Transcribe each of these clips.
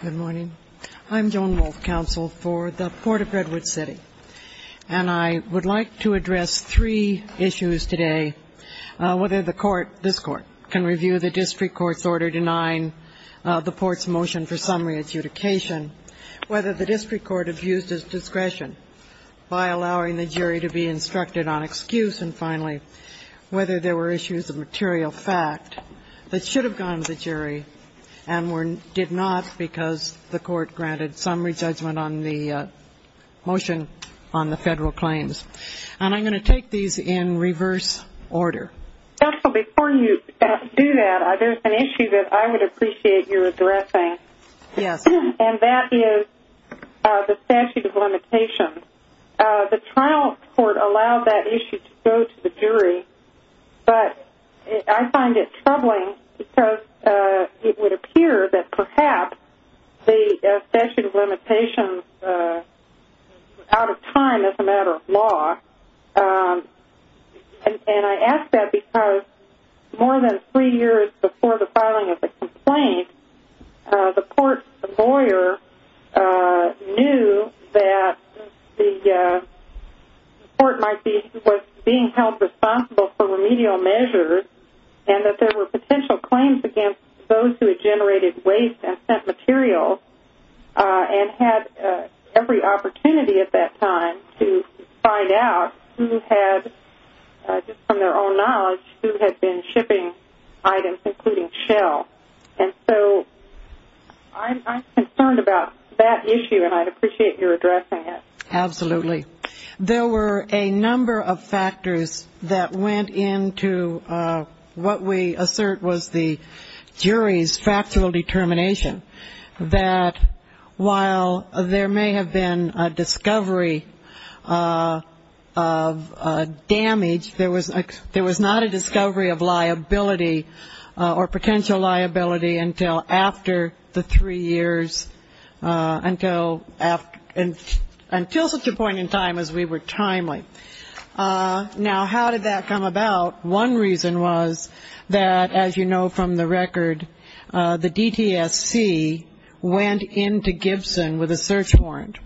Good morning. I'm Joan Wolf, counsel for the Court of Redwood City, and I would like to address three issues today. Whether the court, this court, can review the district court's order denying the court's motion for summary adjudication, whether the district court abused its discretion by allowing the jury to be instructed on excuse, and finally, whether there were issues of material fact that should have gone to the jury and did not because the court granted summary judgment on the motion on the federal claims. And I'm going to take these in reverse order. Before you do that, there's an issue that I would appreciate your addressing, and that is the statute of limitations. The trial court allowed that issue to go to the jury, but I find it troubling because it would appear that perhaps the statute of limitations was out of time as a matter of law. And I ask that because more than three years before the filing of the complaint, the court lawyer knew that the court was being held responsible for remedial measures and that there were potential claims against those who had generated waste and sent materials and had every opportunity at that time to find out who had, just from their own knowledge, who had been shipping items, including shell. And so I'm concerned about that issue, and I'd appreciate your addressing it. Absolutely. There were a number of factors that went into what we assert was the jury's factual determination, that while there may have been a discovery of damage, there was not a discovery of liability or potential liability until after the three years, until such a point in time as we were timely. Now, how did that come about? One reason was that, as you know from the record, the DTSC went into Gibson with a search warrant,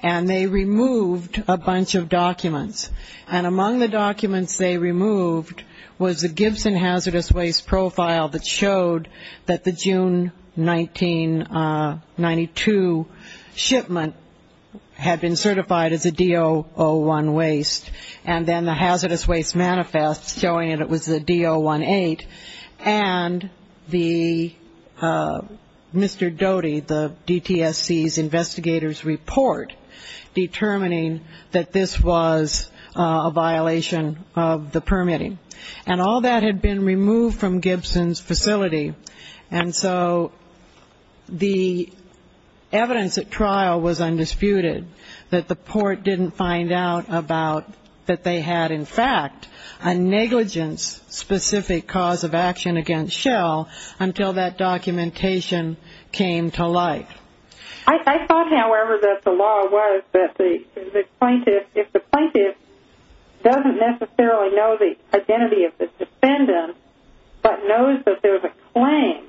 and they removed a bunch of documents. And among the documents they removed was the Gibson hazardous waste profile that showed that the June 1992 shipment had been certified as a DO-01 waste, and then the hazardous waste manifest showing it was a DO-18, and Mr. Doty, the DTSC's investigator's report, determining that this was a violation of the permitting. And all that had been removed from Gibson's facility. And so the evidence at trial was undisputed, that the port didn't find out that they had, in fact, a negligence-specific cause of action against Shell until that documentation came to light. I thought, however, that the law was that if the plaintiff doesn't necessarily know the identity of the defendant but knows that there's a claim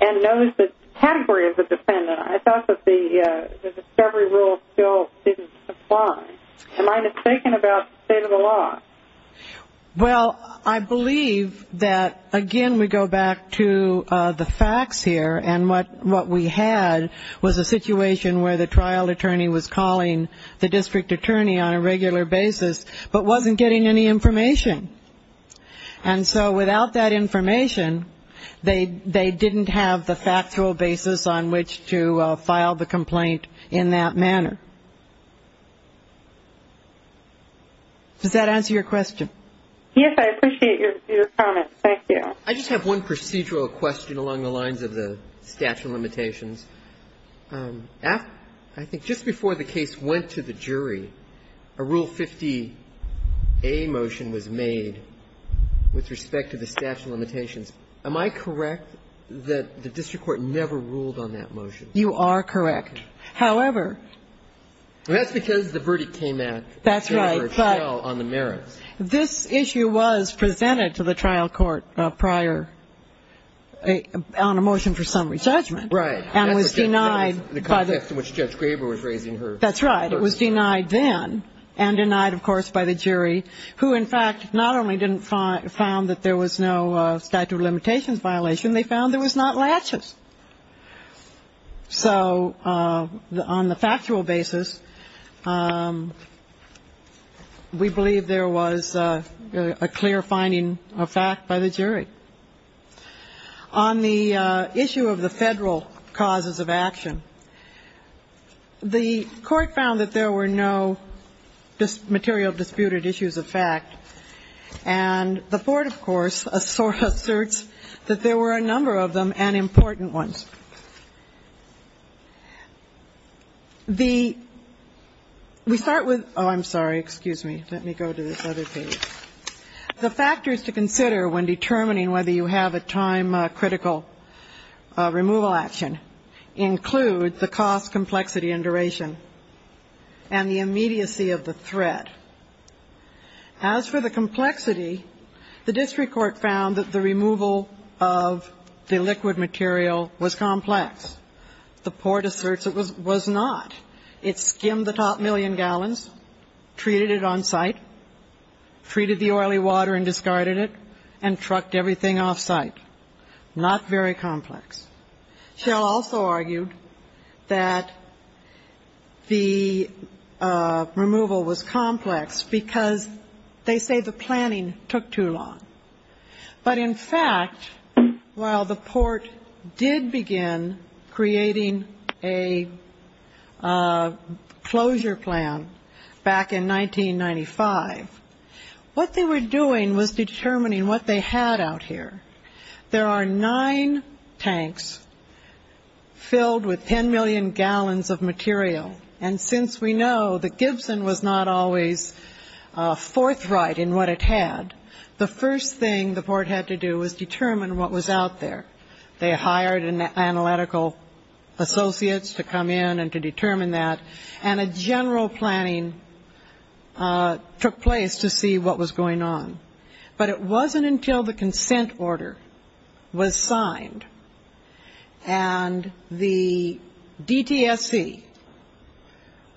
and knows the category of the defendant, I thought that the discovery rule still didn't apply. Am I mistaken about the state of the law? Well, I believe that, again, we go back to the facts here, and what we had was a situation where the trial attorney was calling the district attorney on a regular basis but wasn't getting any information. And so without that information, they didn't have the factual basis on which to file the complaint in that manner. Does that answer your question? Yes, I appreciate your comment. Thank you. I just have one procedural question along the lines of the statute of limitations. I think just before the case went to the jury, a Rule 50A motion was made with respect to the statute of limitations. Am I correct that the district court never ruled on that motion? You are correct. However ---- That's because the verdict came at Jennifer Shell on the merits. This issue was presented to the trial court prior on a motion for summary judgment. And it was denied by the ---- In the context in which Judge Graber was raising her ---- That's right. It was denied then and denied, of course, by the jury, who, in fact, not only found that there was no statute of limitations violation, they found there was not latches. So on the factual basis, we believe there was a clear finding of fact by the jury. On the issue of the Federal causes of action, the Court found that there were no material disputed issues of fact. And the Court, of course, asserts that there were a number of them and important ones. The ---- we start with ---- oh, I'm sorry. Excuse me. Let me go to this other page. The factors to consider when determining whether you have a time-critical removal action include the cost, complexity, and duration and the immediacy of the threat. As for the complexity, the district court found that the removal of the liquid material was complex. The court asserts it was not. It skimmed the top million gallons, treated it on site, treated the oily water and discarded it, and trucked everything off site. Not very complex. Shell also argued that the removal was complex because they say the planning took too long. But in fact, while the court did begin creating a closure plan back in 1995, what they were doing was determining what they had out here. There are nine tanks filled with 10 million gallons of material. And since we know that Gibson was not always forthright in what it had, the first thing the court had to do was determine what was out there. They hired analytical associates to come in and to determine that. And a general planning took place to see what was going on. But it wasn't until the consent order was signed and the DTSC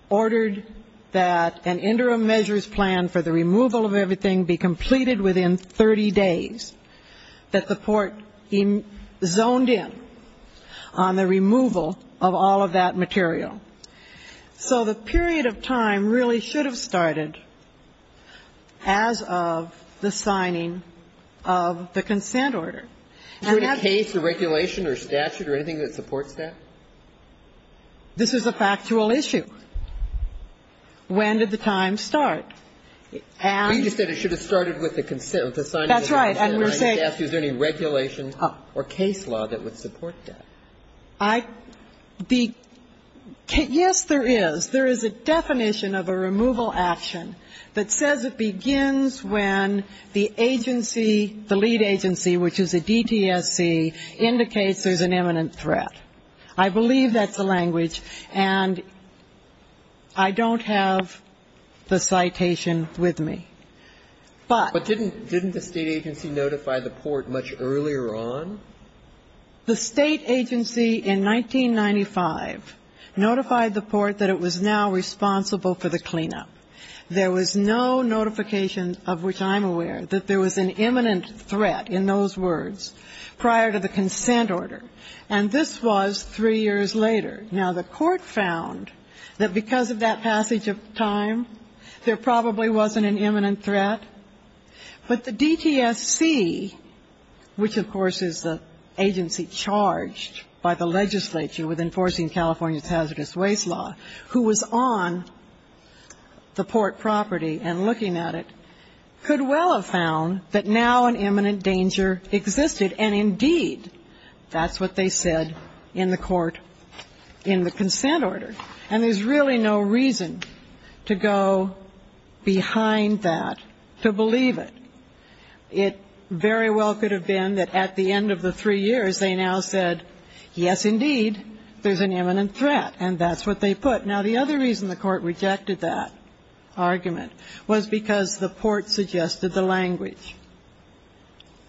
ordered that an interim measures plan for the removal of everything be completed within 30 days that the court zoned in on the removal of all of that material. So the period of time really should have started as of the signing of the consent order. Do you have a case or regulation or statute or anything that supports that? This is a factual issue. When did the time start? You just said it should have started with the consent, with the signing of the consent order. That's right. I just asked you, is there any regulation or case law that would support that? Yes, there is. There is a definition of a removal action that says it begins when the agency, the lead agency, which is a DTSC, indicates there's an imminent threat. I believe that's the language, and I don't have the citation with me. But didn't the state agency notify the court much earlier on? The state agency in 1995 notified the court that it was now responsible for the cleanup. There was no notification, of which I'm aware, that there was an imminent threat in those words prior to the consent order. And this was three years later. Now, the court found that because of that passage of time, there probably wasn't an imminent threat. But the DTSC, which, of course, is the agency charged by the legislature with enforcing California's hazardous waste law, who was on the port property and looking at it, could well have found that now an imminent danger existed. And, indeed, that's what they said in the court in the consent order. And there's really no reason to go behind that to believe it. It very well could have been that at the end of the three years, they now said, yes, indeed, there's an imminent threat. And that's what they put. Now, the other reason the court rejected that argument was because the port suggested the language.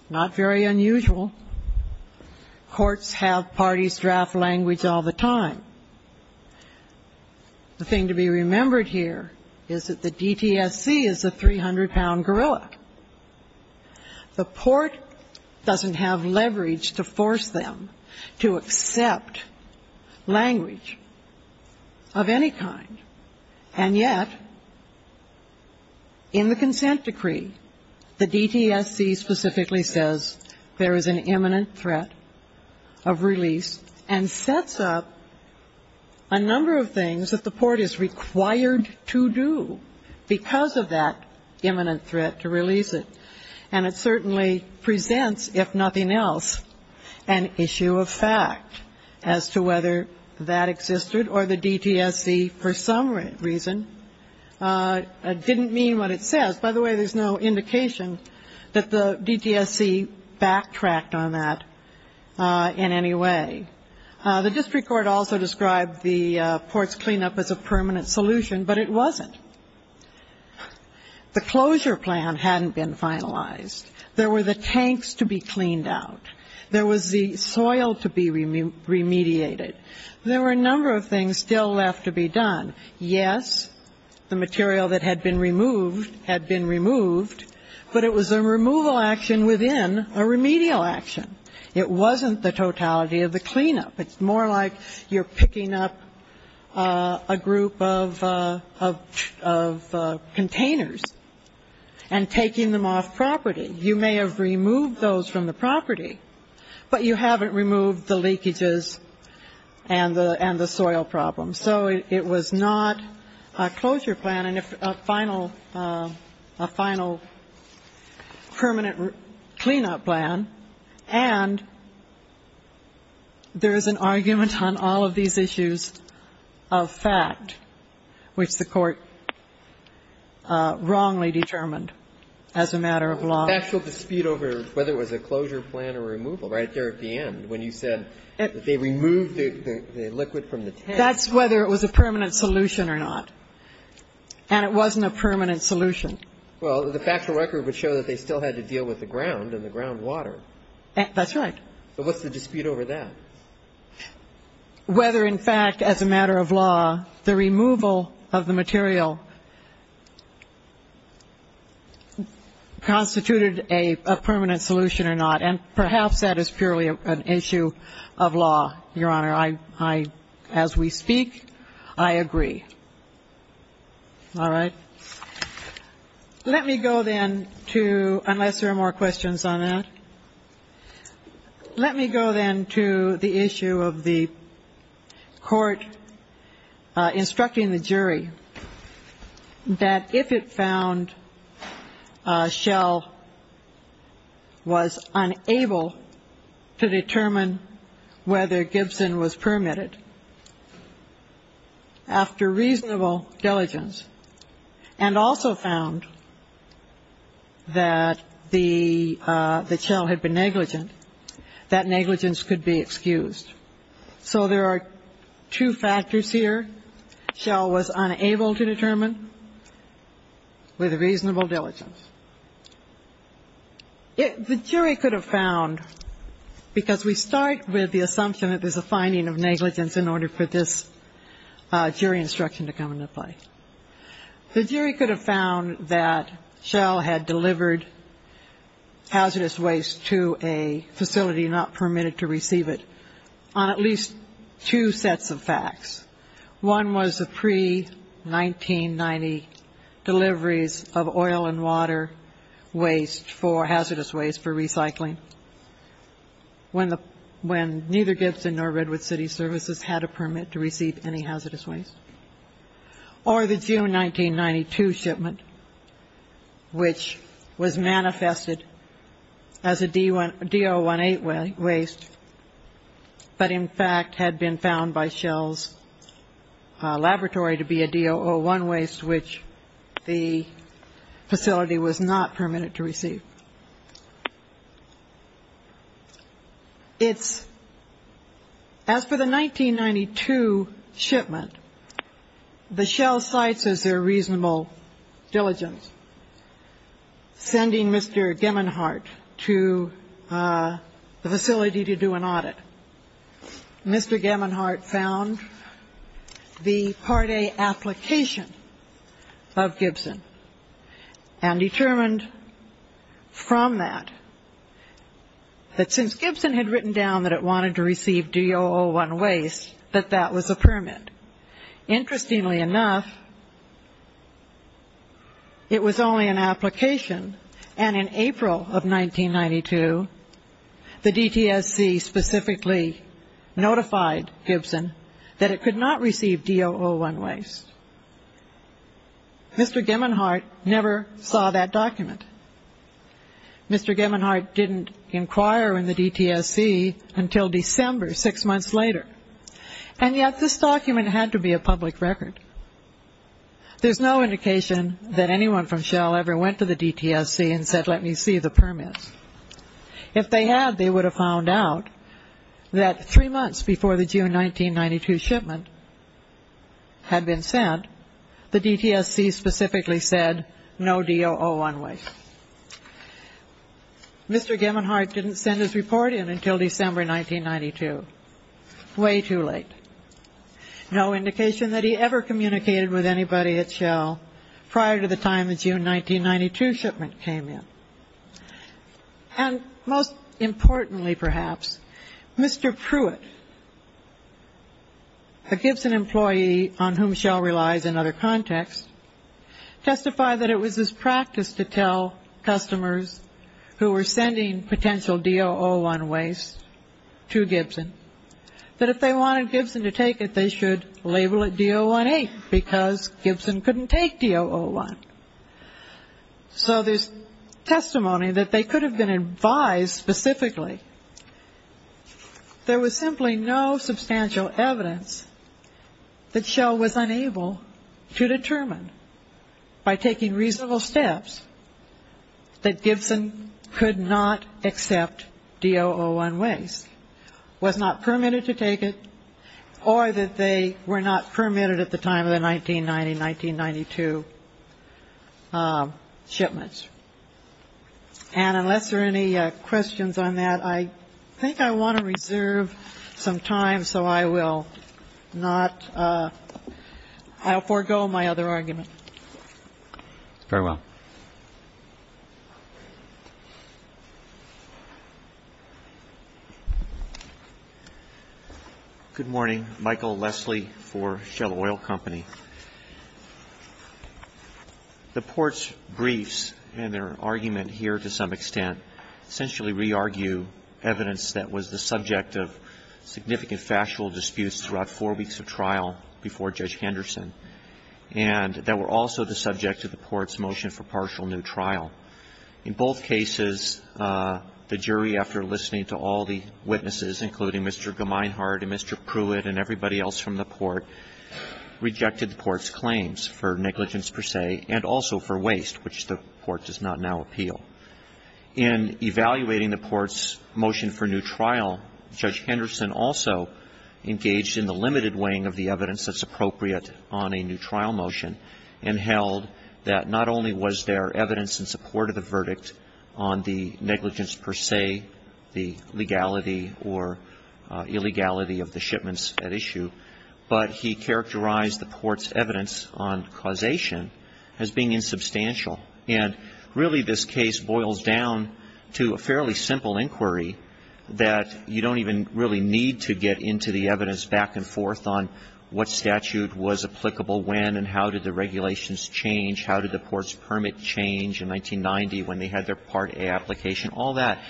Not very unusual. Courts have parties draft language all the time. The thing to be remembered here is that the DTSC is a 300-pound gorilla. The port doesn't have leverage to force them to accept language of any kind. And yet, in the consent decree, the DTSC specifically says there is an imminent threat of release and sets up a number of things that the port is required to do because of that imminent threat to release it. And it certainly presents, if nothing else, an issue of fact as to whether that existed or the DTSC, for some reason, didn't mean what it says. By the way, there's no indication that the DTSC backtracked on that in any way. The district court also described the port's cleanup as a permanent solution, but it wasn't. The closure plan hadn't been finalized. There were the tanks to be cleaned out. There was the soil to be remediated. There were a number of things still left to be done. Yes, the material that had been removed had been removed, but it was a removal action within a remedial action. It wasn't the totality of the cleanup. It's more like you're picking up a group of containers and taking them off property. You may have removed those from the property, but you haven't removed the leakages and the soil problem. So it was not a closure plan and a final permanent cleanup plan. And there is an argument on all of these issues of fact, which the Court wrongly determined as a matter of law. The factual dispute over whether it was a closure plan or removal right there at the end when you said that they removed the liquid from the tank. That's whether it was a permanent solution or not. And it wasn't a permanent solution. Well, the factual record would show that they still had to deal with the ground and the groundwater. That's right. So what's the dispute over that? Whether, in fact, as a matter of law, the removal of the material constituted a permanent solution or not. And perhaps that is purely an issue of law, Your Honor. I, as we speak, I agree. All right. Let me go then to, unless there are more questions on that. Let me go then to the issue of the court instructing the jury that if it found Shell was unable to determine whether Gibson was permitted after reasonable diligence and also found that the shell had been negligent, that negligence could be excused. So there are two factors here. Shell was unable to determine with reasonable diligence. The jury could have found, because we start with the assumption that there's a finding of negligence in order for this jury instruction to come into play. The jury could have found that Shell had delivered hazardous waste to a facility not permitted to receive it on at least two sets of facts. One was the pre-1990 deliveries of oil and water waste for hazardous waste for recycling, when neither Gibson nor Redwood City Services had a permit to receive any hazardous waste. Or the June 1992 shipment, which was manifested as a DO-18 waste, but in fact had been found by Shell's laboratory to be a DO-01 waste, which the facility was not permitted to receive. It's as for the 1992 shipment, the Shell cites as their reasonable diligence, sending Mr. Gemmenhart to the facility to do an audit. Mr. Gemmenhart found the Part A application of Gibson and determined from that, that since Gibson had written down that it wanted to receive DO-01 waste, that that was a permit. Interestingly enough, it was only an application, and in April of 1992, the DTSC specifically notified Gibson that it could not receive DO-01 waste. Mr. Gemmenhart never saw that document. Mr. Gemmenhart didn't inquire in the DTSC until December, six months later. And yet, this document had to be a public record. There's no indication that anyone from Shell ever went to the DTSC and said, let me see the permits. If they had, they would have found out that three months before the June 1992 shipment had been sent, the DTSC specifically said, no DO-01 waste. Mr. Gemmenhart didn't send his report in until December 1992. Way too late. No indication that he ever communicated with anybody at Shell prior to the time the June 1992 shipment came in. And most importantly, perhaps, Mr. Pruitt, a Gibson employee on whom Shell relies in other contexts, testified that it was his practice to tell customers who were sending potential DO-01 waste to Gibson that if they wanted Gibson to take it, they should label it DO-08 because Gibson couldn't take DO-01. So there's testimony that they could have been advised specifically. There was simply no substantial evidence that Shell was unable to determine by taking reasonable steps that Gibson could not accept DO-01 waste, was not permitted to take it, or that they were not permitted at the time of the 1990-1992 shipments. And unless there are any questions on that, I think I want to reserve some time so I will not, I'll forego my other argument. Very well. Thank you. Good morning. Michael Leslie for Shell Oil Company. The Court's briefs and their argument here to some extent essentially re-argue evidence that was the subject of significant factual disputes throughout four weeks of trial before Judge Henderson and that were also the subject of the Court's motion for partial new trial. In both cases, the jury, after listening to all the witnesses, including Mr. Gemeinhart and Mr. Pruitt and everybody else from the Court, rejected the Court's claims for negligence per se and also for waste, which the Court does not now appeal. In evaluating the Court's motion for new trial, Judge Henderson also engaged in the limited weighing of the evidence that's appropriate on a new trial motion and held that not only was there evidence in support of the verdict on the negligence per se, the legality or illegality of the shipments at issue, but he characterized the Court's evidence on causation as being insubstantial. And really this case boils down to a fairly simple inquiry that you don't even really need to get into the evidence back and forth on what statute was applicable when and how did the regulations change, how did the Court's permit change in 1990 when they had their Part A application, all that.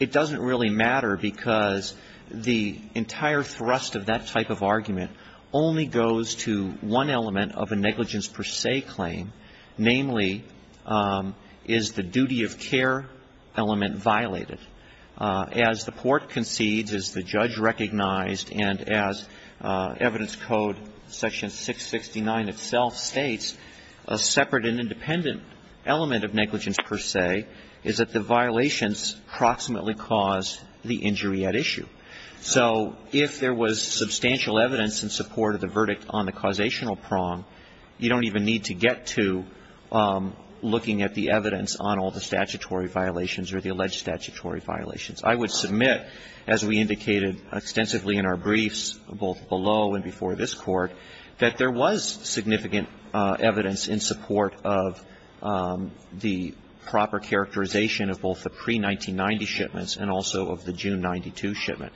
It doesn't really matter because the entire thrust of that type of argument only goes to one element of a negligence per se claim, namely, is the duty of care element violated. As the Court concedes, as the judge recognized, and as evidence code section 669 itself states, a separate and independent element of negligence per se is that the violations proximately cause the injury at issue. So if there was substantial evidence in support of the verdict on the causational prong, you don't even need to get to looking at the evidence on all the statutory violations or the alleged statutory violations. I would submit, as we indicated extensively in our briefs, both below and before this Court, that there was significant evidence in support of the proper characterization of both the pre-1990 shipments and also of the June 92 shipment.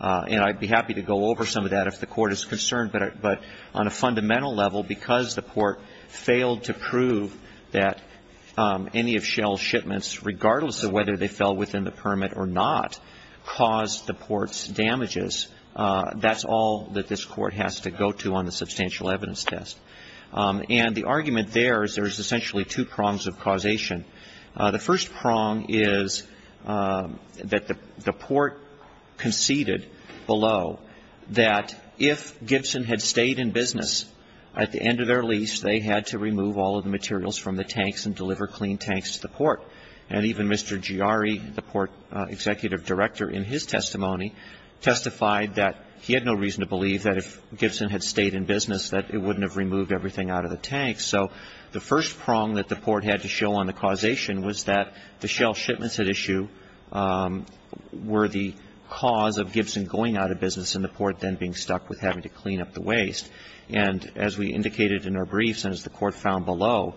And I'd be happy to go over some of that if the Court is concerned, but on a fundamental level, because the Court failed to prove that any of Shell's shipments, regardless of whether they fell within the permit or not, caused the Court's damages, that's all that this Court has to go to on the substantial evidence test. And the argument there is there's essentially two prongs of causation. The first prong is that the Port conceded below that if Gibson had stayed in business at the end of their lease, they had to remove all of the materials from the tanks and deliver clean tanks to the Port. And even Mr. Giari, the Port executive director, in his testimony testified that he had no reason to believe that if Gibson had stayed in business, that it wouldn't have removed everything out of the tanks. So the first prong that the Port had to show on the causation was that the Shell shipments at issue were the cause of Gibson going out of business and the Port then being stuck with having to clean up the waste. And as we indicated in our briefs, and as the Court found below,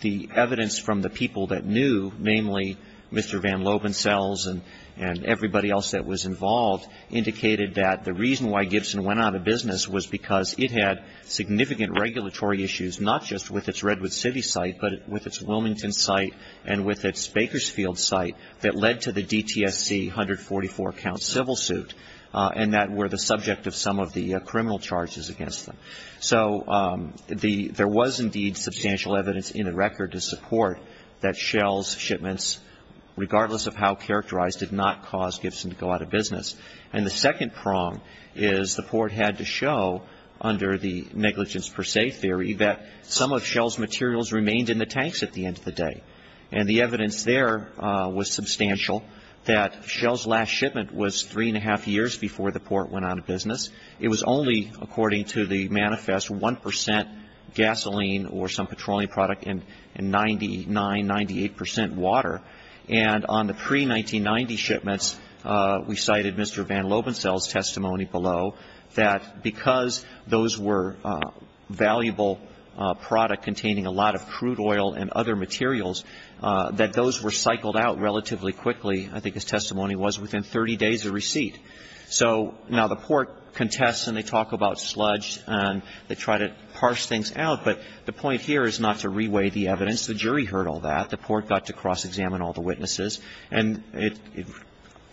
the evidence from the people that knew, namely Mr. Van Lovensels and everybody else that was involved, indicated that the reason why Gibson went out of business was because it had significant regulatory issues, not just with its Redwood City site, but with its Wilmington site and with its Bakersfield site that led to the DTSC 144-count civil suit, and that were the subject of some of the criminal charges against them. So there was indeed substantial evidence in the record to support that Shell's shipments, regardless of how characterized, did not cause Gibson to go out of business. And the second prong is the Port had to show, under the negligence per se theory, that some of Shell's materials remained in the tanks at the end of the day. And the evidence there was substantial, that Shell's last shipment was three and a half years before the Port went out of business. It was only, according to the manifest, 1 percent gasoline or some petroleum product and 99, 98 percent water. And on the pre-1990 shipments, we cited Mr. Van Lovensels' testimony below that because those were valuable product containing a lot of crude oil and other materials, that those were cycled out relatively quickly, I think his testimony was, within 30 days of receipt. So now the Port contests and they talk about sludge and they try to parse things out, but the point here is not to reweigh the evidence. The jury heard all that. The Port got to cross-examine all the witnesses. And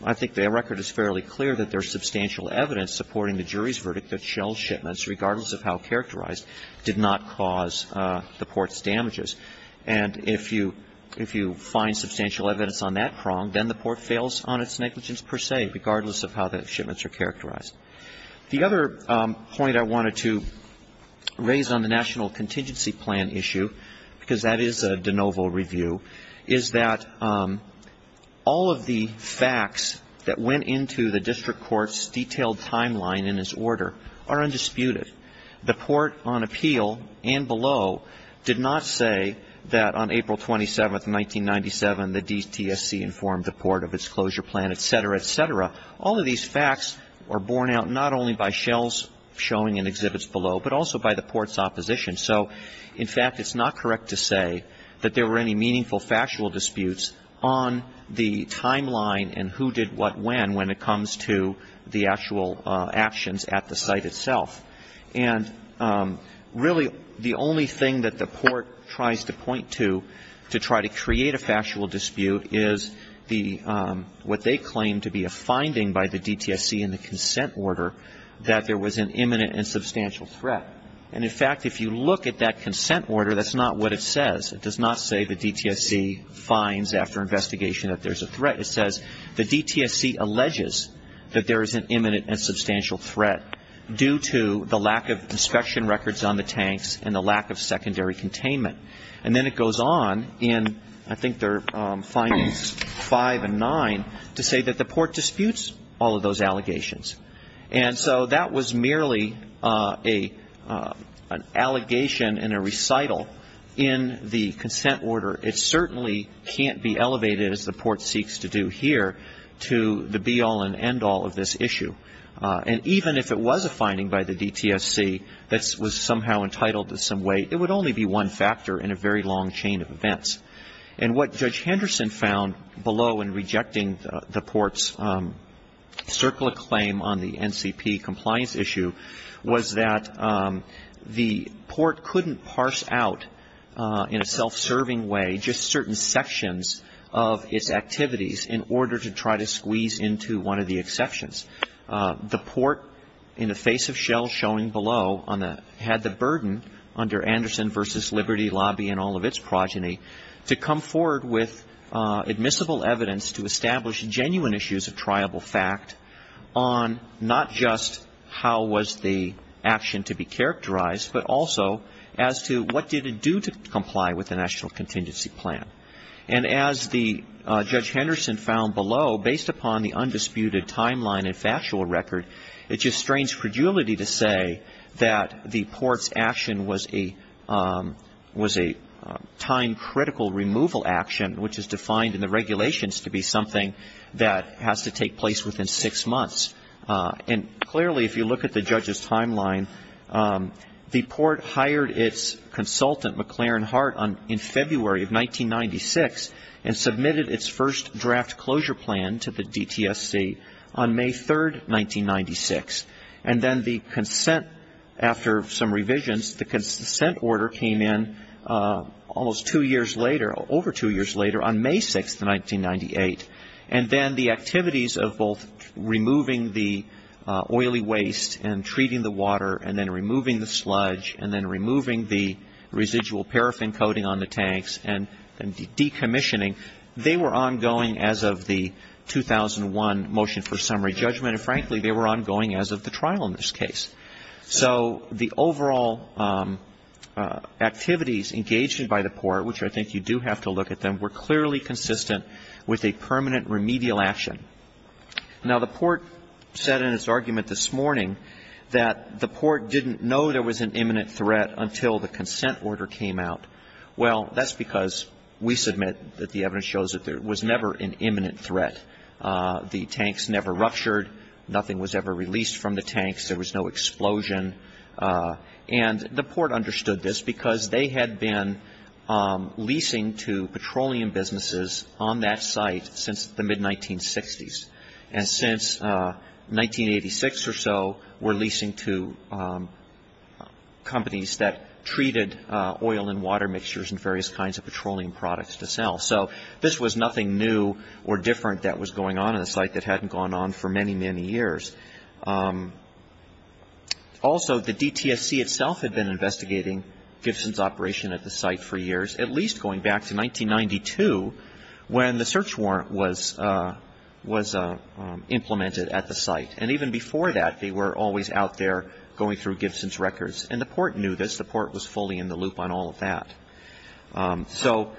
I think the record is fairly clear that there's substantial evidence supporting the jury's verdict that Shell's shipments, regardless of how characterized, did not cause the Port's damages. And if you find substantial evidence on that prong, then the Port fails on its negligence per se, regardless of how the shipments are characterized. The other point I wanted to raise on the National Contingency Plan issue, because that is a de novo review, is that all of the facts that went into the district court's detailed timeline in its order are undisputed. The Port on appeal and below did not say that on April 27, 1997, the DTSC informed the Port of its closure plan, et cetera, et cetera. All of these facts were borne out not only by Shell's showing and exhibits below, but also by the Port's opposition. So, in fact, it's not correct to say that there were any meaningful factual disputes on the timeline and who did what when, when it comes to the actual actions at the site itself. And really, the only thing that the Port tries to point to, to try to create a factual dispute, is the what they claim to be a finding by the DTSC in the consent order that there was an imminent and substantial threat. And, in fact, if you look at that consent order, that's not what it says. It does not say the DTSC finds after investigation that there's a threat. It says the DTSC alleges that there is an imminent and substantial threat due to the lack of inspection records on the tanks and the lack of secondary containment. And then it goes on in, I think, their findings five and nine to say that the Port disputes all of those allegations. And so that was merely an allegation and a recital in the consent order. It certainly can't be elevated, as the Port seeks to do here, to the be-all and end-all of this issue. And even if it was a finding by the DTSC that was somehow entitled to some weight, it would only be one factor in a very long chain of events. And what Judge Henderson found below in rejecting the Port's circular claim on the NCP compliance issue was that the Port couldn't parse out in a self-serving way just certain sections of its activities in order to try to squeeze into one of the exceptions. The Port, in the face of Shell showing below, had the burden under Anderson v. Liberty Lobby and all of its progeny to come forward with admissible evidence to establish genuine issues of triable fact on not just how was the action to be characterized, but also as to what did it do to comply with the National Contingency Plan. And as Judge Henderson found below, based upon the undisputed timeline and factual was a time-critical removal action, which is defined in the regulations to be something that has to take place within six months. And clearly, if you look at the judge's timeline, the Port hired its consultant, McLaren Hart, in February of 1996, and submitted its first draft closure plan to the DTSC on May 3, 1996. And then the consent, after some revisions, the consent order came in almost two years later, over two years later, on May 6, 1998. And then the activities of both removing the oily waste and treating the water and then removing the sludge and then removing the residual paraffin coating on the tanks and decommissioning, they were ongoing as of the 2001 motion for summary judgment. And frankly, they were ongoing as of the trial in this case. So the overall activities engaged by the Port, which I think you do have to look at them, were clearly consistent with a permanent remedial action. Now, the Port said in its argument this morning that the Port didn't know there was an imminent threat until the consent order came out. Well, that's because we submit that the evidence shows that there was never an imminent threat. The tanks never ruptured. Nothing was ever released from the tanks. There was no explosion. And the Port understood this because they had been leasing to petroleum businesses on that site since the mid-1960s. And since 1986 or so, we're leasing to companies that treated oil and water mixtures and various kinds of petroleum products to sell. So this was nothing new or different that was going on on the site that hadn't gone on for many, many years. Also, the DTSC itself had been investigating Gibson's operation at the site for years, at least going back to 1992 when the search warrant was implemented at the site. And even before that, they were always out there going through Gibson's records. And the Port knew this. The Port was fully in the loop on all of that. So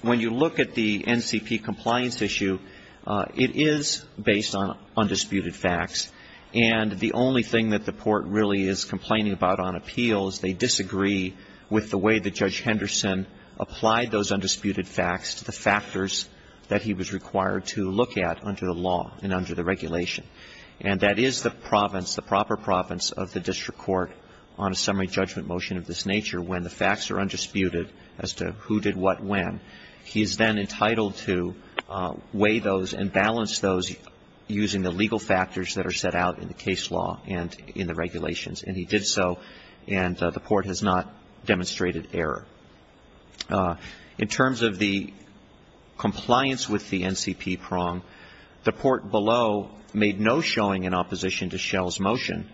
when you look at the NCP compliance issue, it is based on undisputed facts. And the only thing that the Port really is complaining about on appeal is they disagree with the way that Judge Henderson applied those undisputed facts to the factors that he was required to look at under the law and under the regulation. And that is the province, the proper province of the NCP prong, is the only place that Judge Henderson is entitled to weigh those undisputed as to who did what when. He is then entitled to weigh those and balance those using the legal factors that are set out in the case law and in the regulations. And he did so, and the Port has not demonstrated error. In terms of the compliance with the NCP prong, the Port below made no comment on that. The only thing that the Port did was show in opposition to Schell's motion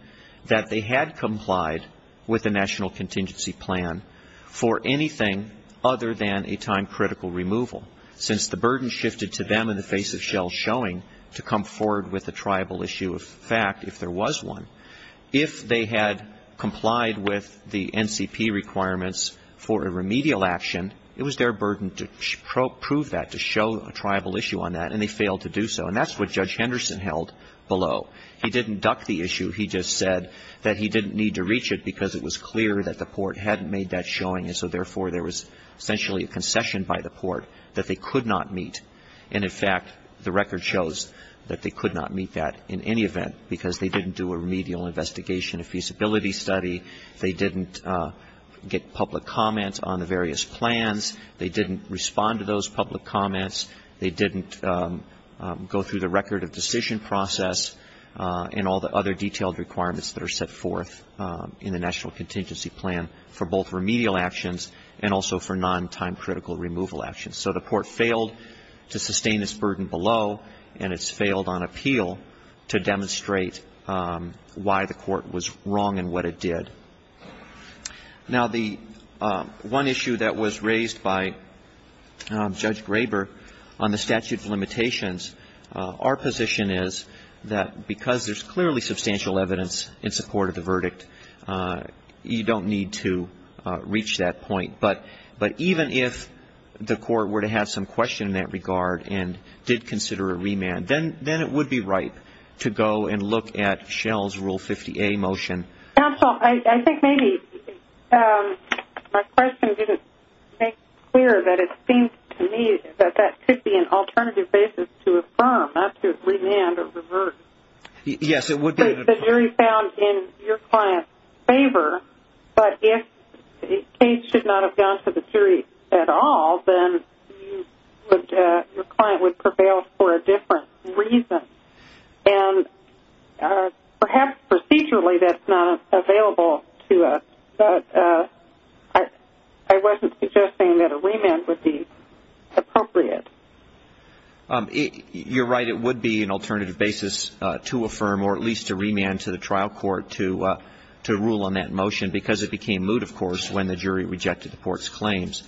that they had complied with the National Contingency Plan for anything other than a time-critical removal, since the burden shifted to them in the face of Schell's showing to come forward with a triable issue of fact if there was one. If they had complied with the NCP requirements for a remedial action, it was their burden to prove that, to show a triable issue on that, and they failed to do so. And that's what Judge Henderson held below. He didn't duck the issue. He just said that he didn't need to reach it because it was clear that the Port hadn't made that showing, and so, therefore, there was essentially a concession by the Port that they could not meet. And, in fact, the record shows that they could not meet that in any event because they didn't do a remedial investigation, a feasibility study. They didn't get public comment on the various plans. They didn't respond to those public comments. They didn't go through the record of decision process and all the other detailed requirements that are set forth in the National Contingency Plan for both remedial actions and also for non-time-critical removal actions. So the Port failed to sustain its burden below, and it's failed on appeal to demonstrate why the Port failed to sustain its burden below. I think one issue that was raised by Judge Graber on the statute of limitations, our position is that because there's clearly substantial evidence in support of the verdict, you don't need to reach that point. But even if the Court were to have some question in that regard and did consider a remand, then it would be right to go and look at Shell's Rule 50A motion. My question didn't make it clear that it seemed to me that that could be an alternative basis to affirm, not to remand or revert. Yes, it would be. The jury found in your client's favor, but if the case should not have gone to the jury at all, then your client would prevail for a remand. I wasn't suggesting that a remand would be appropriate. You're right, it would be an alternative basis to affirm or at least to remand to the trial court to rule on that motion, because it became moot, of course, when the jury rejected the Port's claims.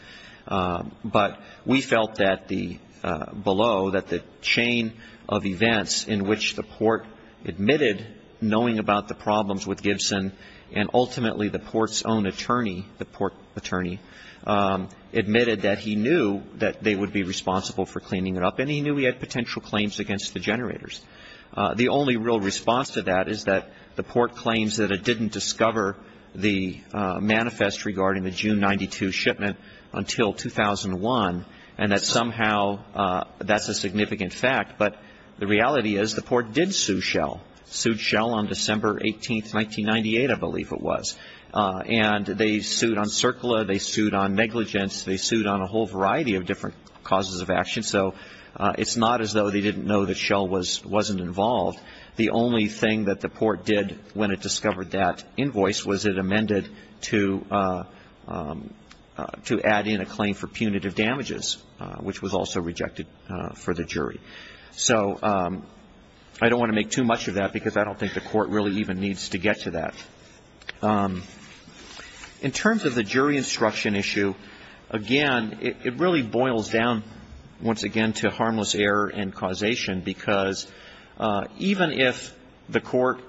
But we felt that below, that the chain of events in which the Port admitted knowing about the problems with Gibson, and ultimately the Port's own attorney, the Port attorney, admitted that he knew that they would be responsible for cleaning it up, and he knew he had potential claims against the generators. The only real response to that is that the Port claims that it didn't discover the manifest regarding the June 92 shipment until 2001, and that somehow that's a significant fact. But the reality is the Port did sue Shell. Sued Shell on December 18, 1998, I believe it was. And they sued on CERCLA, they sued on negligence, they sued on a whole variety of different causes of action. So it's not as though they didn't know that Shell wasn't involved. The only thing that the Port did when it discovered that invoice was it amended to add in a claim for punitive damages, which was also rejected for the jury. So I don't want to make too much of that because I don't think the Court really even needs to get to that. In terms of the jury instruction issue, again, it really boils down, once again, to harmless error and causation, because even if the Court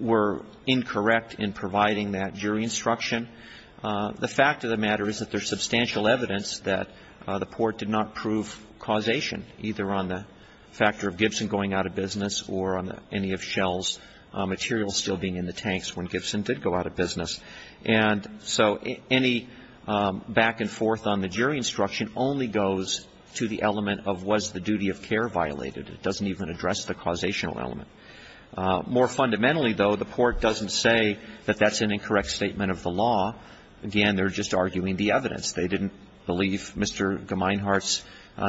were incorrect in providing that jury instruction, the fact of the matter is that there's substantial evidence that the Port did not prove causation, either on the factor of Gibson going out of business or on any of Shell's materials still being in the tanks when Gibson did go out of business. And so any back and forth on the jury instruction only goes to the element of was the duty of care violated. It doesn't even address the causational element. More fundamentally, though, the Port doesn't say that that's an incorrect statement of the law. Again, they're just arguing the evidence. They didn't believe Mr. Gemeinhart's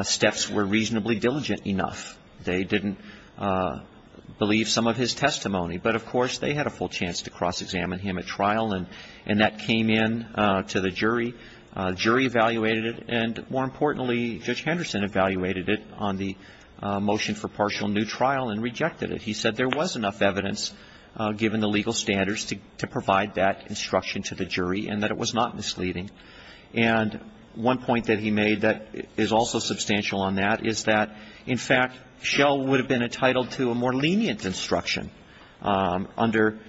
steps were reasonably diligent enough. They didn't believe some of his testimony. But, of course, they had a full chance to cross-examine him at trial, and that came in to the jury. The jury evaluated it, and more importantly, Judge Henderson evaluated it on the motion for partial new trial and rejected it. He said there was enough evidence, given the legal standards, to provide that instruction. He said there was enough evidence, given the legal standards, to provide that instruction to the jury and that it was not misleading. And one point that he made that is also substantial on that is that, in fact, Shell would have been entitled to a more lenient instruction. Under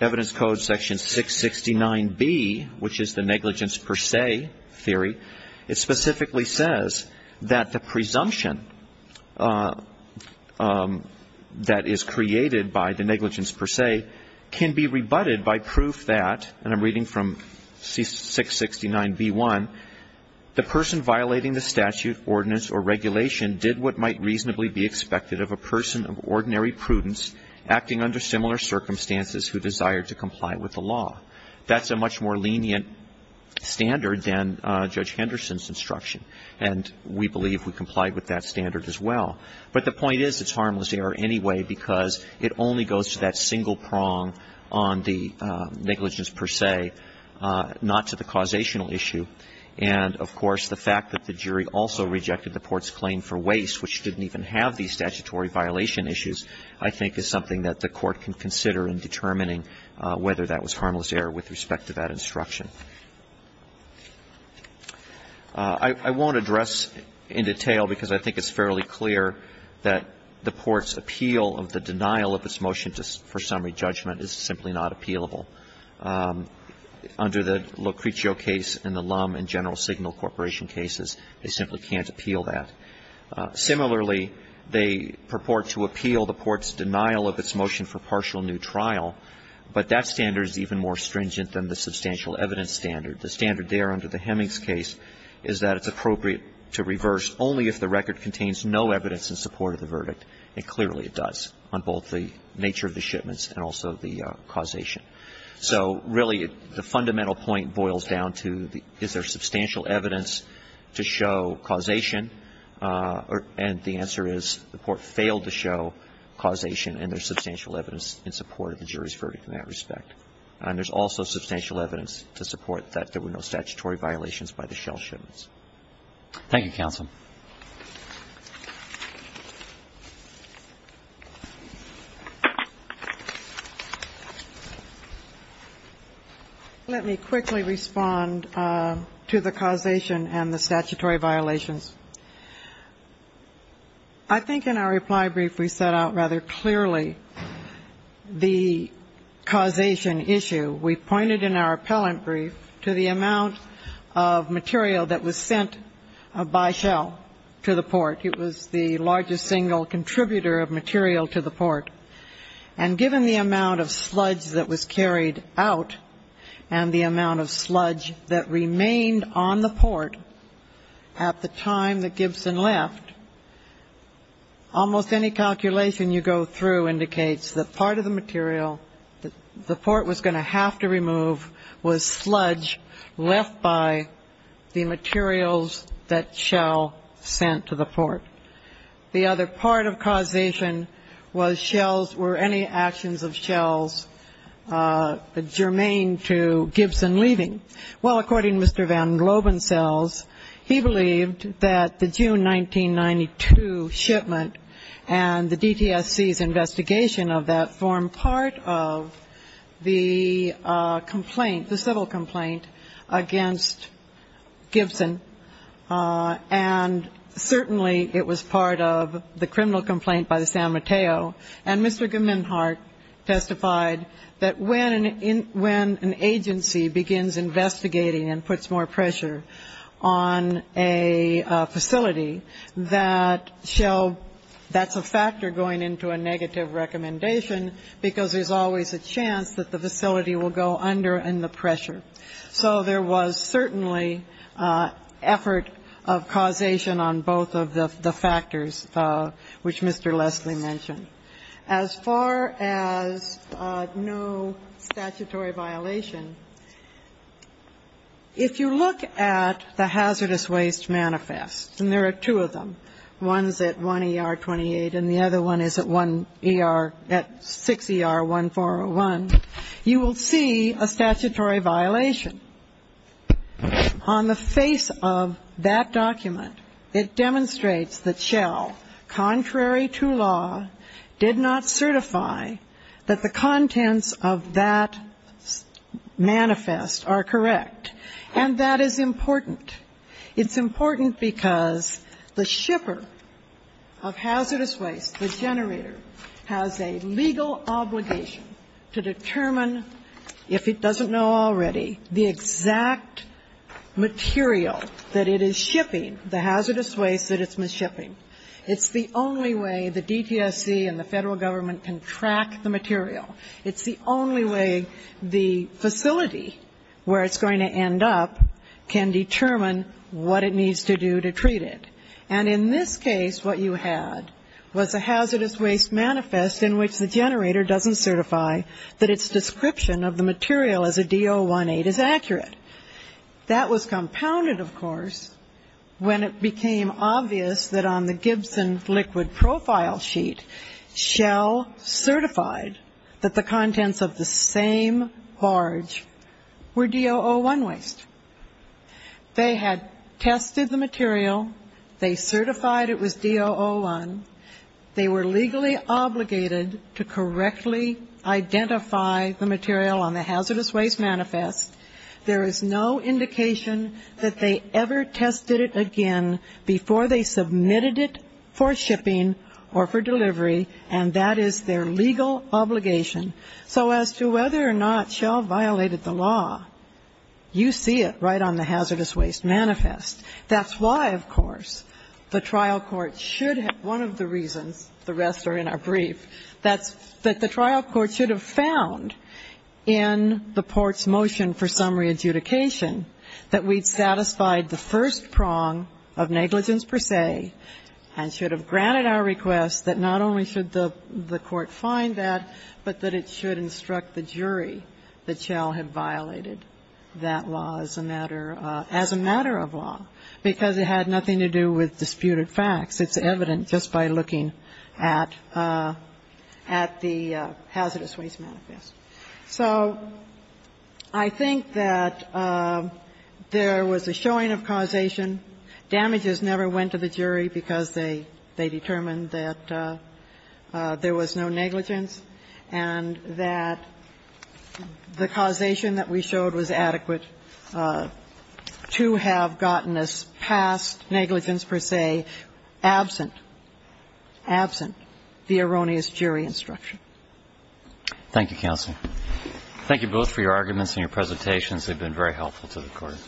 Evidence Code Section 669B, which is the negligence per se theory, it specifically says that the presumption that is created by the person violating the statute, ordinance, or regulation did what might reasonably be expected of a person of ordinary prudence acting under similar circumstances who desired to comply with the law. That's a much more lenient standard than Judge Henderson's instruction, and we believe we complied with that standard as well. But the point is it's harmless error anyway, because it only goes to that single prong on the negligence per se, not to the causational issue. And, of course, the fact that the jury also rejected the Court's claim for waste, which didn't even have these statutory violation issues, I think is something that the Court can consider in determining whether that was harmless error with respect to that instruction. I won't address in detail, because I think it's fairly clear, that the Court's appeal of the denial of this motion for summary judgment is simply not appealable. Under the Lucretio case and the Lum and General Signal Corporation cases, they simply can't appeal that. Similarly, they purport to appeal the Court's denial of its motion for partial new trial, but that standard is even more stringent than the substantial evidence standard. The standard there under the Hemings case is that it's appropriate to reverse only if the record contains no evidence in support of the verdict. And clearly it does on both the nature of the shipments and also the causation. So, really, the fundamental point boils down to is there substantial evidence to show causation, and the answer is the Court failed to show causation, and there's substantial evidence in support of the jury's verdict in that respect. And there's also substantial evidence to support that there were no statutory violations by the shell shipments. Thank you, counsel. Let me quickly respond to the causation and the statutory violations. I think in our reply brief we set out rather clearly the causation issue. We pointed in our appellant brief to the amount of material that was sent by shell to the port. It was the largest single contributor of material to the port. And given the amount of sludge that was carried out and the amount of sludge that remained on the port at the time that Gibson left, almost any calculation you go through indicates that part of the material that the port was going to have to carry or have to remove was sludge left by the materials that shell sent to the port. The other part of causation was shells, were any actions of shells germane to Gibson leaving. Well, according to Mr. Van Globen's cells, he believed that the June 1992 shipment and the DTSC's investigation of that case formed part of the complaint, the civil complaint against Gibson. And certainly it was part of the criminal complaint by the San Mateo. And Mr. Geminhart testified that when an agency begins investigating and puts more pressure on a facility, that shell, that's a factor going into a negative recommendation, because there's always a chance that the facility will go under and the pressure. So there was certainly effort of causation on both of the factors, which Mr. Leslie mentioned. As far as no statutory violation, if you look at the hazardous waste manifest, and there are two of them, one's at 1ER28 and the other one is at 6ER1401, you will see a statutory violation. On the face of that document, it demonstrates that shell, contrary to law, did not certify that the contents of that manifest are correct. And that is important. It's important because the shipper of hazardous waste, the generator, has a legal obligation to determine, if it doesn't know already, the exact material that it is shipping, the hazardous waste that it's shipping. It's the only way the DTSC and the Federal Government can track the material. It's the only way the facility, where it's going to end up, can determine what it needs to do to treat it. And in this case, what you had was a hazardous waste manifest in which the generator doesn't certify that its description of the material as a D018 is accurate. That was compounded, of course, when it became obvious that on the Gibson liquid profile sheet, shell certified, that the contents of the same barge were D001 waste. They had tested the material. They certified it was D001. They were legally obligated to correctly identify the material on the hazardous waste manifest. There is no indication that they ever tested it again before they submitted it for shipping or for delivery, and that is their legal obligation. So as to whether or not Shell violated the law, you see it right on the hazardous waste manifest. That's why, of course, the trial court should have one of the reasons, the rest are in our brief, that the trial court should have found in the Port's motion for summary adjudication that we'd satisfied the first prong of negligence per se, and should have granted our request that not only should the court find that, but that it should instruct the jury that Shell had violated that law as a matter of law, because it had nothing to do with disputed facts. It's evident just by looking at the hazardous waste manifest. So I think that there was a showing of causation. Damages never went to the jury because they determined that there was no negligence and that the causation that we showed was adequate to have gotten us past negligence per se, absent, absent the erroneous jury instruction. Thank you, counsel. Thank you both for your arguments and your presentations. They've been very helpful to the court.